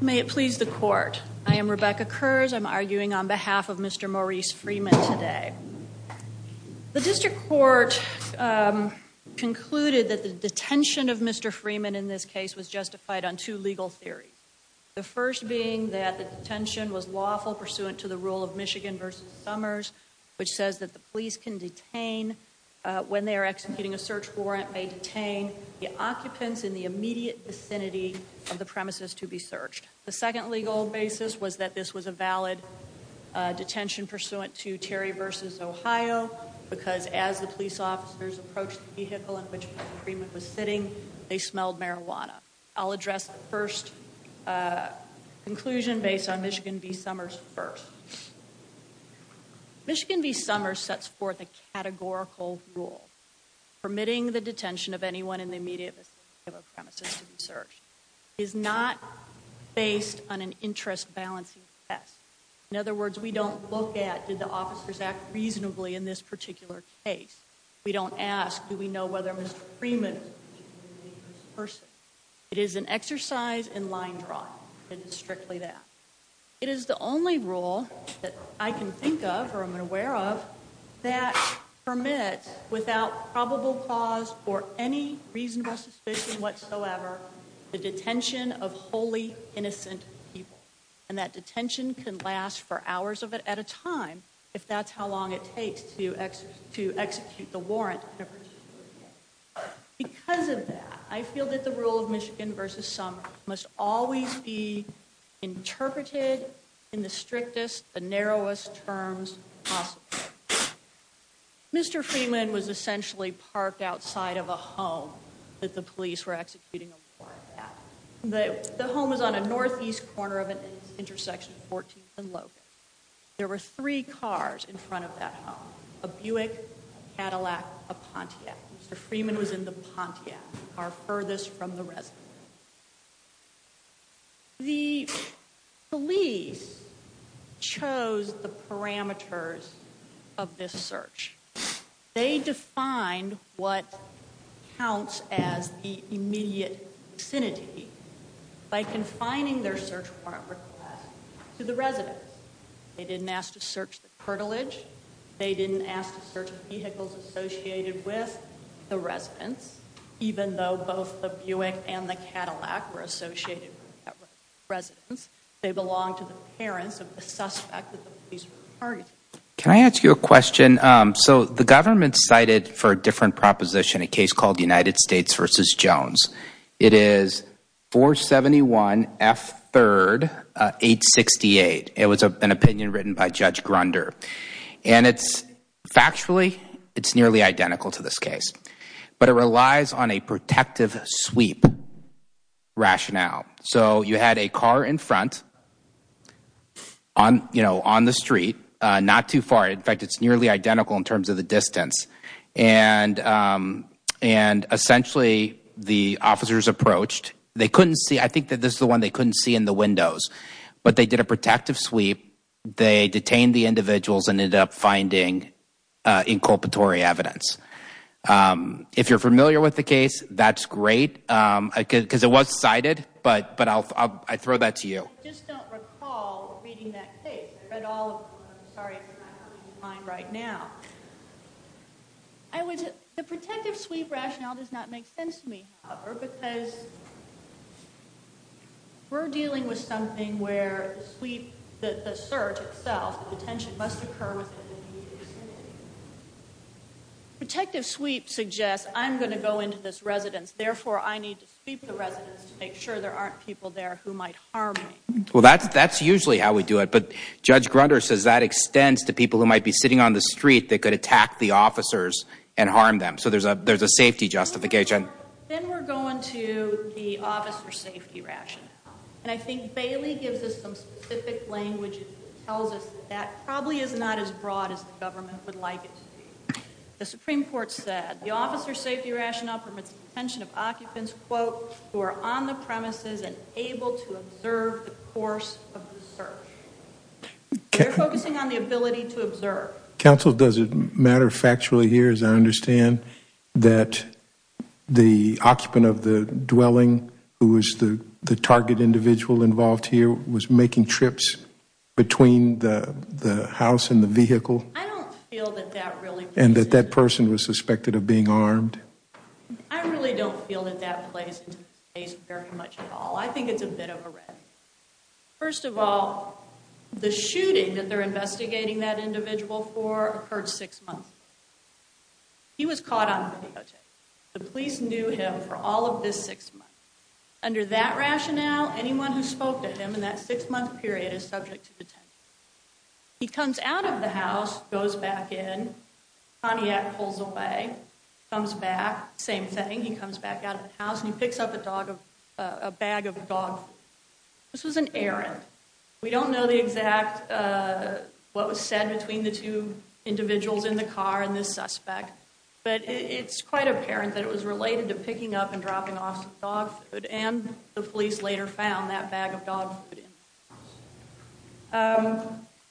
May it please the court. I am Rebecca Kurz. I'm arguing on behalf of Mr. Maurice Freeman today. The district court concluded that the detention of Mr. Freeman in this case was justified on two legal theories. The first being that the detention was lawful pursuant to the rule of Michigan v. Summers, which says that the police can detain when they are executing a search warrant, may detain the occupants in the immediate vicinity of the premises to be searched. The second legal basis was that this was a valid detention pursuant to Terry v. Ohio because as the police officers approached the vehicle in which Freeman was sitting, they smelled marijuana. I'll address the first conclusion based on Michigan v. Summers first. Michigan v. Summers sets forth a categorical rule permitting the detention of anyone in the immediate vicinity of a premises to be searched. It is not based on an interest-balancing test. In other words, we don't look at did the officers act reasonably in this particular case. We don't ask do we know whether Mr. Freeman was a person. It is an exercise in line drawing. It is strictly that. It is the only rule that I can think of or without probable cause or any reasonable suspicion whatsoever, the detention of wholly innocent people and that detention can last for hours of it at a time if that's how long it takes to execute the warrant. Because of that, I feel that the rule of Michigan v. Summers must always be parked outside of a home that the police were executing a warrant at. The home is on a northeast corner of an intersection 14th and Logan. There were three cars in front of that home, a Buick, a Cadillac, a Pontiac. Mr. Freeman was in the Pontiac, our furthest from the residence. The police chose the parameters of this search. They defined what counts as the immediate vicinity by confining their search warrant request to the residence. They didn't ask to search the cartilage. They didn't ask to search the vehicles associated with the residence, even though both the Buick and the Cadillac were associated with that residence. They belonged to the parents of the suspect that the police were targeting. Can I ask you a question? So the government cited for a different proposition, a case called United States v. Jones. It is 471 F. 3rd 868. It was an opinion written by Judge Grunder. And it's factually, it's nearly identical to this case, but it relies on a protective sweep rationale. So you had a car in front on, you know, on the street, not too far. In fact, it's nearly identical in terms of the distance. And essentially, the officers approached. They couldn't see, I think that this is the one they couldn't see in the windows, but they did a protective sweep. They detained the individuals and ended up finding inculpatory evidence. If you're familiar with the case, that's great. Because it was cited, but I'll throw that to you. I just don't recall reading that case. I read all of them. I'm sorry if I'm not helping you find right now. The protective sweep rationale does not make sense to me. Because we're dealing with something where the sweep, the search itself, the detention must occur within the immediate vicinity. Protective sweep suggests I'm going to go into this residence. Therefore, I need to sweep the residence to make sure there aren't people there who might harm me. Well, that's usually how we do it. But Judge Grunder says that extends to people who might be sitting on the street that could attack the officers and harm them. So there's a safety justification. Then we're going to the officer safety rationale. And I think Bailey gives us some specific language that tells us that probably is not as broad as the government would like it to be. The Supreme Court said the officer safety rationale permits detention of occupants, quote, who are on the premises and able to observe the course of the search. They're focusing on the ability to observe. Counsel, does it matter factually here as I involved here was making trips between the house and the vehicle? I don't feel that that really and that that person was suspected of being armed. I really don't feel that that plays very much at all. I think it's a bit of a read. First of all, the shooting that they're investigating that individual for occurred six months. He was caught on video tape. The police knew him for all this six months. Under that rationale, anyone who spoke to him in that six month period is subject to detention. He comes out of the house, goes back in, pulls away, comes back. Same thing. He comes back out of the house and he picks up a dog, a bag of dog. This was an errand. We don't know the exact what was said between the two individuals in the car and the suspect. But it's quite apparent that it was related to picking up and dropping off dog food and the police later found that bag of dog food.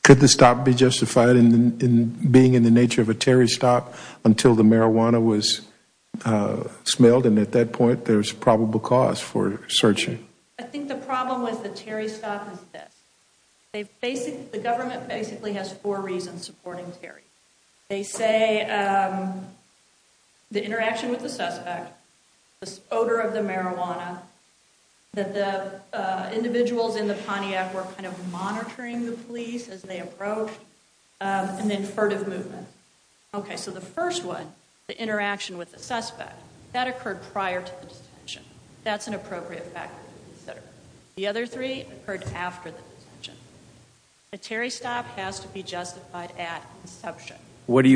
Could the stop be justified in being in the nature of a Terry stop until the marijuana was smelled and at that point there's probable cause for searching? I think the problem with the Terry stop is this. The government basically has four reasons supporting Terry. They say the interaction with the suspect, the odor of the marijuana, that the individuals in the Pontiac were kind of monitoring the police as they approached, and then furtive movement. Okay, so the first one, the interaction with the suspect, that occurred prior to the detention. That's an appropriate factor to consider. The other three occurred after the detention. A Terry stop has to be What do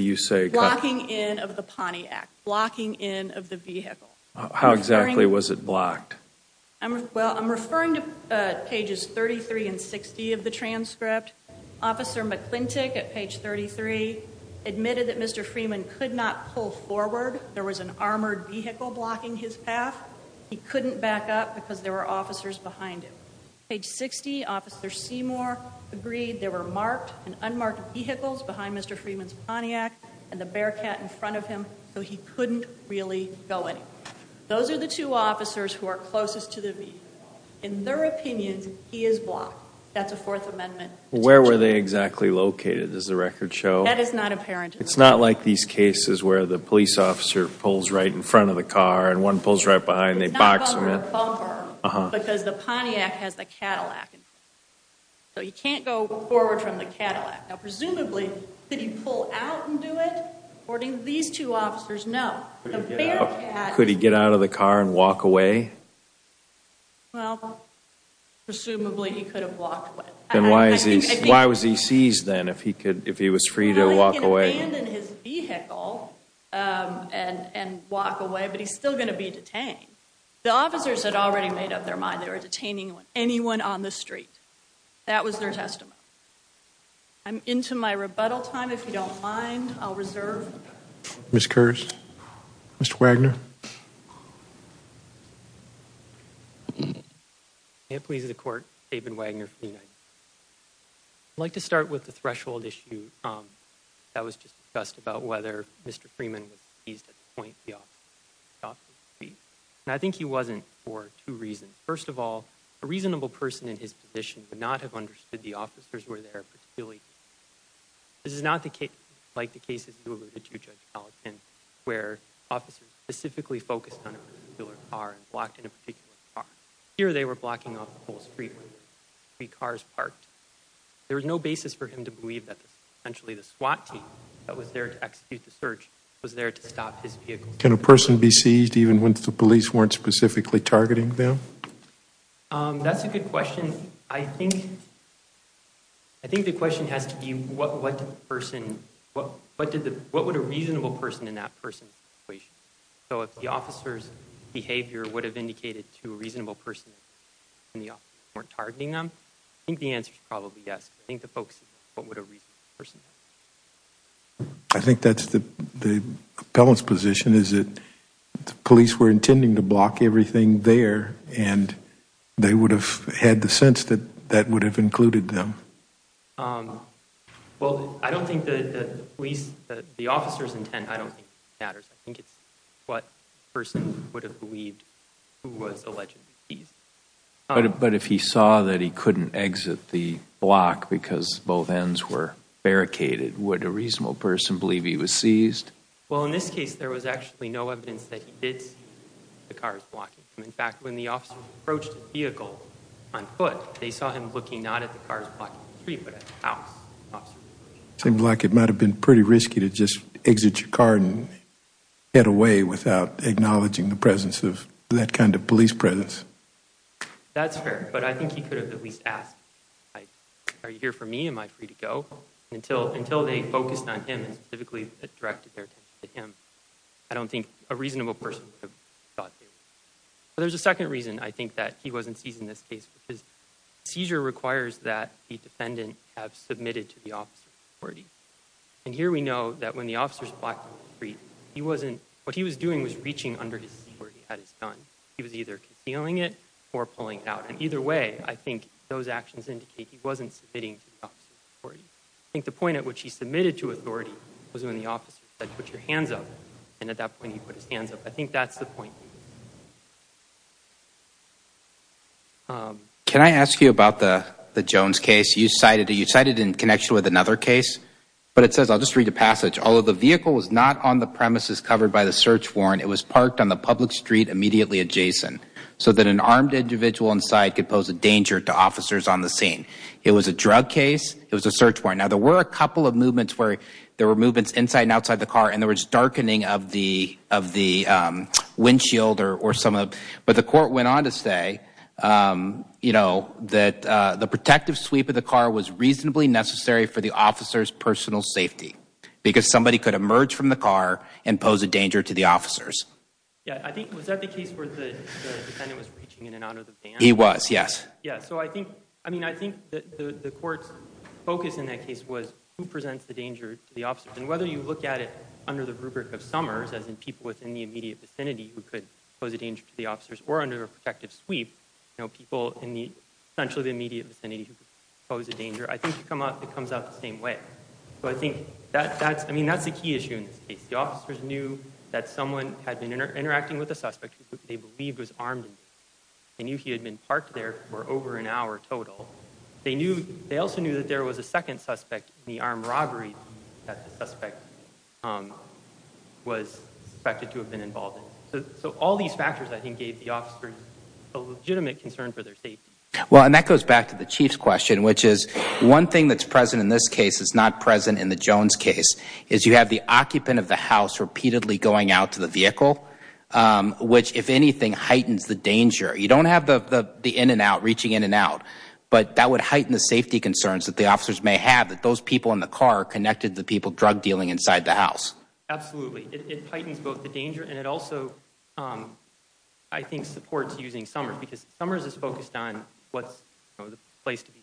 you say? Blocking in of the Pontiac. Blocking in of the vehicle. How exactly was it blocked? Well, I'm referring to pages 33 and 60 of the transcript. Officer McClintick at page 33 admitted that Mr. Freeman could not pull forward. There was an armored vehicle blocking his path. He couldn't back up because there were officers behind him. Page 60, Officer Seymour agreed there were marked and unmarked vehicles behind Mr. Freeman's Pontiac and the Bearcat in front of him, so he couldn't really go in. Those are the two officers who are closest to the vehicle. In their opinions, he is blocked. That's a fourth amendment. Where were they exactly located? Does the record show? That is not apparent. It's not like these cases where the police officer pulls right in front of the car and one pulls right behind. They box him in. It's not a bumper because the Pontiac has the Cadillac. So he can't go forward from the Cadillac. Now presumably, did he pull out and do it? According to these two officers, no. Could he get out of the car and walk away? Well, presumably he could have walked away. Then why was he seized then if he could, if he was free to walk away? He could abandon his vehicle and walk away, but he's still going to be detained. The officers had already made up their mind. They were detaining anyone on the street. That was their testimony. I'm into my rebuttal time. If you don't mind, I'll reserve. Ms. Kersh. Mr. Wagner. May it please the court, David Wagner from the United States. I'd like to start with the threshold issue that was just discussed about whether Mr. Freeman was seized at the point the officers agreed. And I think he wasn't for two reasons. First of all, a reasonable person in his position would not have understood the officers were there particularly. This is not the case like the cases you alluded to, Judge Gallatin, where officers specifically focused on a particular car and blocked in a particular car. Here they were blocking off the whole street with three cars parked. There was no basis for him to believe that essentially the SWAT team that was there to execute the search was there to stop his vehicle. Can a person be seized even when the police weren't specifically targeting them? That's a good question. I think the question has to be what would a reasonable person in that person's situation. So if the officer's behavior would have indicated to a reasonable person and the officers weren't targeting them, I think the answer is probably yes. I think the focus is what would a reasonable person do. I think that's the police were intending to block everything there and they would have had the sense that that would have included them. Well, I don't think that the police, the officers intent, I don't think matters. I think it's what person would have believed who was allegedly seized. But if he saw that he couldn't exit the block because both ends were barricaded, would a reasonable person believe he was seized? Well, in this case there was actually no evidence that he did see the cars blocking. In fact, when the officers approached the vehicle on foot, they saw him looking not at the cars blocking the street but at the house. Seems like it might have been pretty risky to just exit your car and head away without acknowledging the presence of that kind of police presence. That's fair, but I think he could have at least asked, are you here for me? Am I free to go? Until they focused on specifically directed their attention to him. I don't think a reasonable person would have thought they would. But there's a second reason I think that he wasn't seized in this case because seizure requires that the defendant have submitted to the officer's authority. And here we know that when the officers blocked the street, he wasn't, what he was doing was reaching under his security at his gun. He was either concealing it or pulling it out. And either way, I think those actions indicate he wasn't submitting to the officer's authority. I think the point at which he submitted to authority was when the officer said, put your hands up. And at that point he put his hands up. I think that's the point. Can I ask you about the Jones case? You cited it in connection with another case, but it says, I'll just read the passage, although the vehicle was not on the premises covered by the search warrant, it was parked on the public street immediately adjacent so that an armed individual inside could pose a danger to officers on the scene. It was a drug case. It was a search warrant. Now there were a couple of movements where there were movements inside and outside the car and there was darkening of the of the windshield or some of, but the court went on to say, you know, that the protective sweep of the car was reasonably necessary for the officer's personal safety because somebody could emerge from the car and pose a danger to the officers. Yeah, I think, was that the case where the defendant was reaching in and out of the van? He was, yes. Yeah, so I think, I mean, I think that the court's focus in that case was who presents the danger to the officers. And whether you look at it under the rubric of summers, as in people within the immediate vicinity who could pose a danger to the officers or under a protective sweep, you know, people in the essentially the immediate vicinity who pose a danger, I think it comes out the same way. So I think that's, I mean, that's the key issue in this case. The officers knew that someone had been interacting with a suspect who they believed was armed. They knew he had been parked there for over an hour total. They knew, they also knew that there was a second suspect in the armed robbery that the suspect was suspected to have been involved in. So all these factors, I think, gave the officers a legitimate concern for their safety. Well, and that goes back to the Chief's question, which is one thing that's present in this case is not present in the Jones case is you have the occupant of the house repeatedly going out to the vehicle, which, if anything, heightens the danger. You don't have the in and out reaching in and out, but that would heighten the safety concerns that the officers may have that those people in the car connected the people drug dealing inside the house. Absolutely. It heightens both the danger and it also, I think, supports using summers because summers is focused on what's the place to be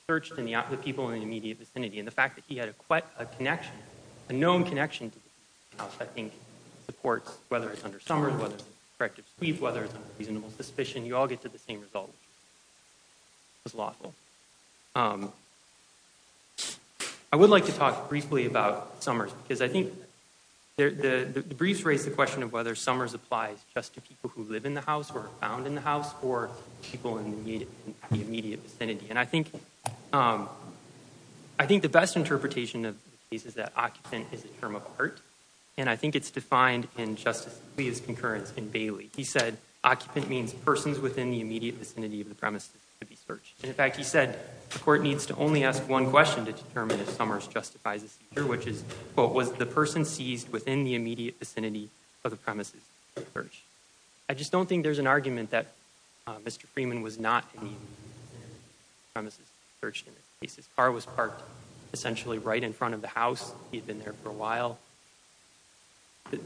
a known connection to the house. I think supports whether it's under summers, whether it's corrective sweep, whether it's reasonable suspicion, you all get to the same result. It's lawful. I would like to talk briefly about summers because I think the briefs raise the question of whether summers applies just to people who live in the house or found in the house or people in the immediate vicinity. And I think I think the best interpretation of the case is that occupant is a term of part. And I think it's defined in Justice Lee's concurrence in Bailey. He said occupant means persons within the immediate vicinity of the premises to be searched. And in fact, he said the court needs to only ask one question to determine if summers justifies this, which is what was the person seized within the immediate vicinity of the premises? I just don't think there's an argument that Mr. Freeman was not premises searched. His car was parked essentially right in front of the house. He'd been there for a while.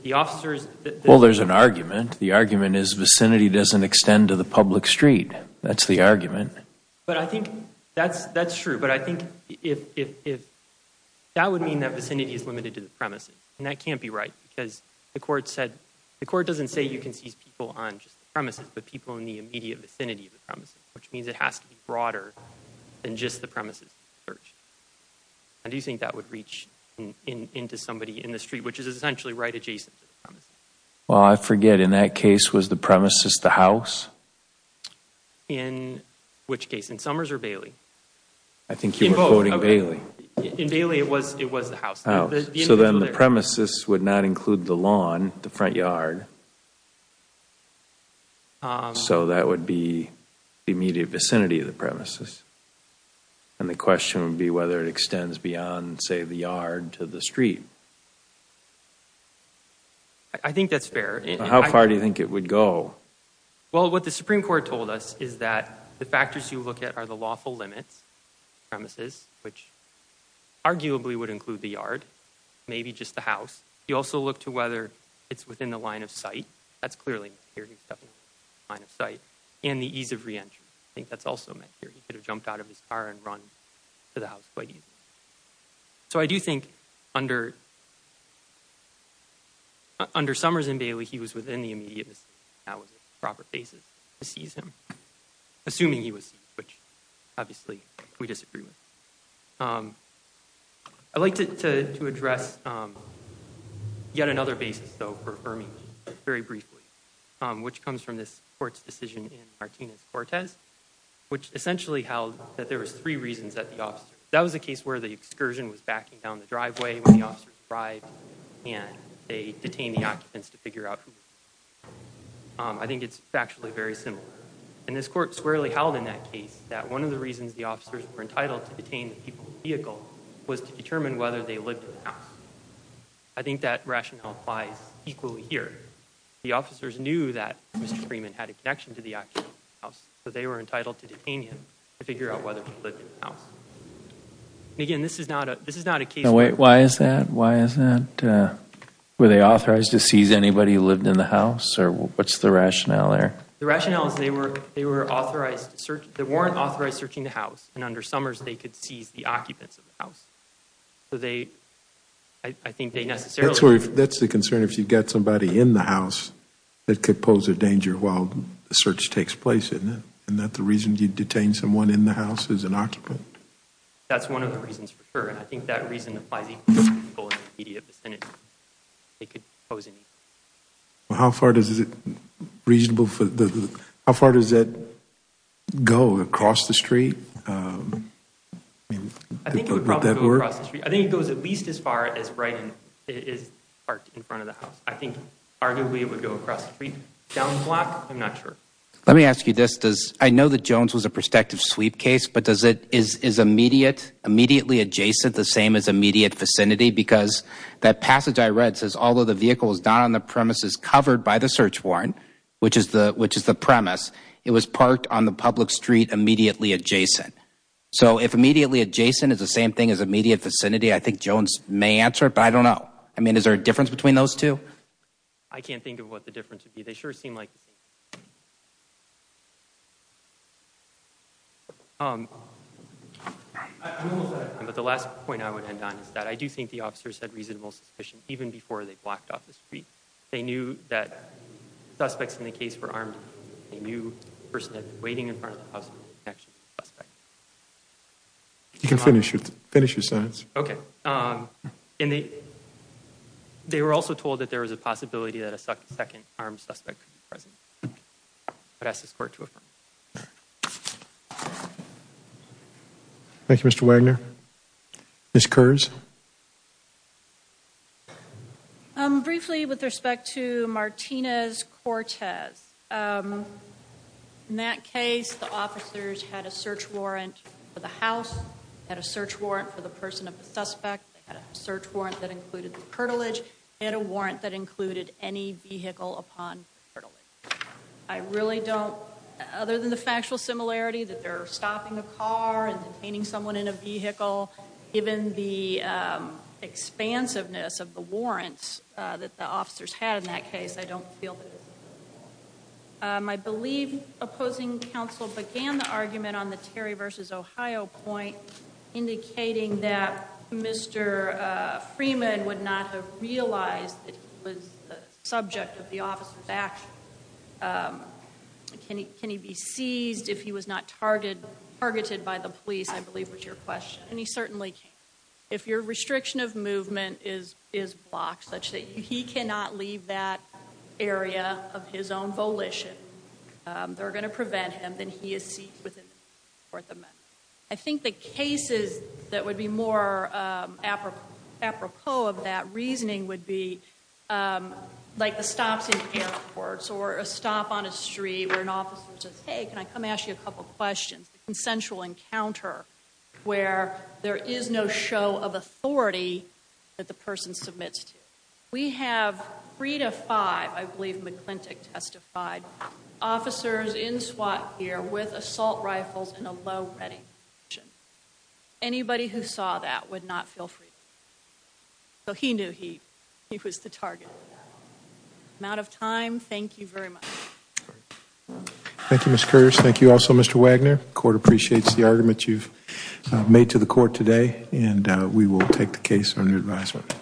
The officers... Well, there's an argument. The argument is vicinity doesn't extend to the public street. That's the argument. But I think that's true. But I think that would mean that vicinity is limited to the premises. And that can't be right because the court said the court doesn't say you can seize people on just the premises, but people in the immediate vicinity of the premises, which means it has to be broader than just the premises. How do you think that would reach into somebody in the street, which is essentially right adjacent to the premises? Well, I forget. In that case, was the premises the house? In which case? In Summers or Bailey? I think you're quoting Bailey. In Bailey, it was the house. So then the premises would not include the lawn, the front yard. So that would be the immediate vicinity of the premises. And the question would be whether it extends beyond, say, the yard to the street. I think that's fair. How far do you think it would go? Well, what the Supreme Court told us is that the factors you look at are the lawful limits, premises, which arguably would include the yard, maybe just the house. You also look to whether it's within the line of sight. That's clearly here. He's definitely in the line of sight. And the ease of re-entry. I think that's also meant here. He could have jumped out of his car and run to the house quite easily. So I do think under Summers and Bailey, he was within the immediate vicinity. That was a proper basis to seize him, assuming he was seized, which obviously we disagree with. I'd like to address yet another basis, though, for affirming very briefly, which comes from this court's decision in Martinez-Cortez, which essentially held that there was three reasons that the officer, that was a case where the excursion was backing down the driveway when the officers arrived and they detained the occupants to figure out who. I think it's factually very similar. And this court squarely held in that case that one of the reasons the officers were entitled to detain the people's vehicle was to determine whether they lived in the house. I think that rationale applies equally here. The officers knew that Mr. Freeman had a connection to the actual house, so they were entitled to detain him to figure out whether he lived in the house. And again, this is not a case where... Wait, why is that? Why is that? Were they authorized to seize anybody who lived in the house? Or what's the rationale there? The rationale is they were authorized, they weren't authorized searching the house. And under Summers, they could seize the occupants of the house. So they, I think they necessarily... That's the concern if you've got somebody in the house that could pose a danger while the search takes place, isn't it? And that the reason you detain someone in the house is an occupant? That's one of the reasons for sure. And I think that reason applies equally to people in the house. How far does that go across the street? I think it would probably go across the street. I think it goes at least as far as right in front of the house. I think arguably it would go across the street. Down the block, I'm not sure. Let me ask you this. I know that Jones was a prospective sweep case, but is it immediately adjacent, the same as immediate vicinity? Because that passage I read says, although the vehicle was not on the premises covered by the search warrant, which is the premise, it was parked on the public street immediately adjacent. So if immediately adjacent is the same thing as immediate vicinity, I think Jones may answer it, but I don't know. I mean, is there a difference between those two? I can't think of what the difference would be. They sure seem like the same. But the last point I would end on is that I do think the officers had reasonable suspicion, even before they blocked off the street. They knew that suspects in the case were armed. They knew the person had been waiting in front of the house. You can finish your sentence. Okay. They were also told that there was a possibility that a second armed suspect could be present. I'd ask this court to affirm. Thank you, Mr. Wagner. Ms. Kurz. Briefly, with respect to Martinez-Cortez, in that case, the officers had a search warrant for the house, had a search warrant for the person of the suspect, had a search warrant that included the cartilage, and a warrant that included any vehicle upon cartilage. I really don't, other than the factual similarity that they're stopping a car and detaining someone in a vehicle, given the expansiveness of the warrants that the officers had in that case, I don't feel that it's reasonable. I believe opposing counsel began the argument on the Terry versus Ohio point, indicating that Mr. Freeman would not have realized that he was the subject of the officer's action. Can he be seized if he was not targeted by the police, I believe was your question, and he certainly can't. If your restriction of movement is blocked such that he cannot leave that area of his own volition, they're going to prevent him, then he is seized within the scope of the measure. I think the cases that would be more apropos of that reasoning would be like the stops in airports or a stop on a street where an officer says, hey, can I come ask you a couple questions, a consensual encounter where there is no show of authority that the person submits to. We have three to five, I believe McClintick testified, officers in SWAT gear with assault rifles in a low ready position. Anybody who saw that would not feel free. So he knew he was the target. I'm out of time. Thank you very much. Thank you, Mr. Curtis. Thank you also, Mr. Wagner. The court appreciates the argument you've made to the court today, and we will take the case under advisement.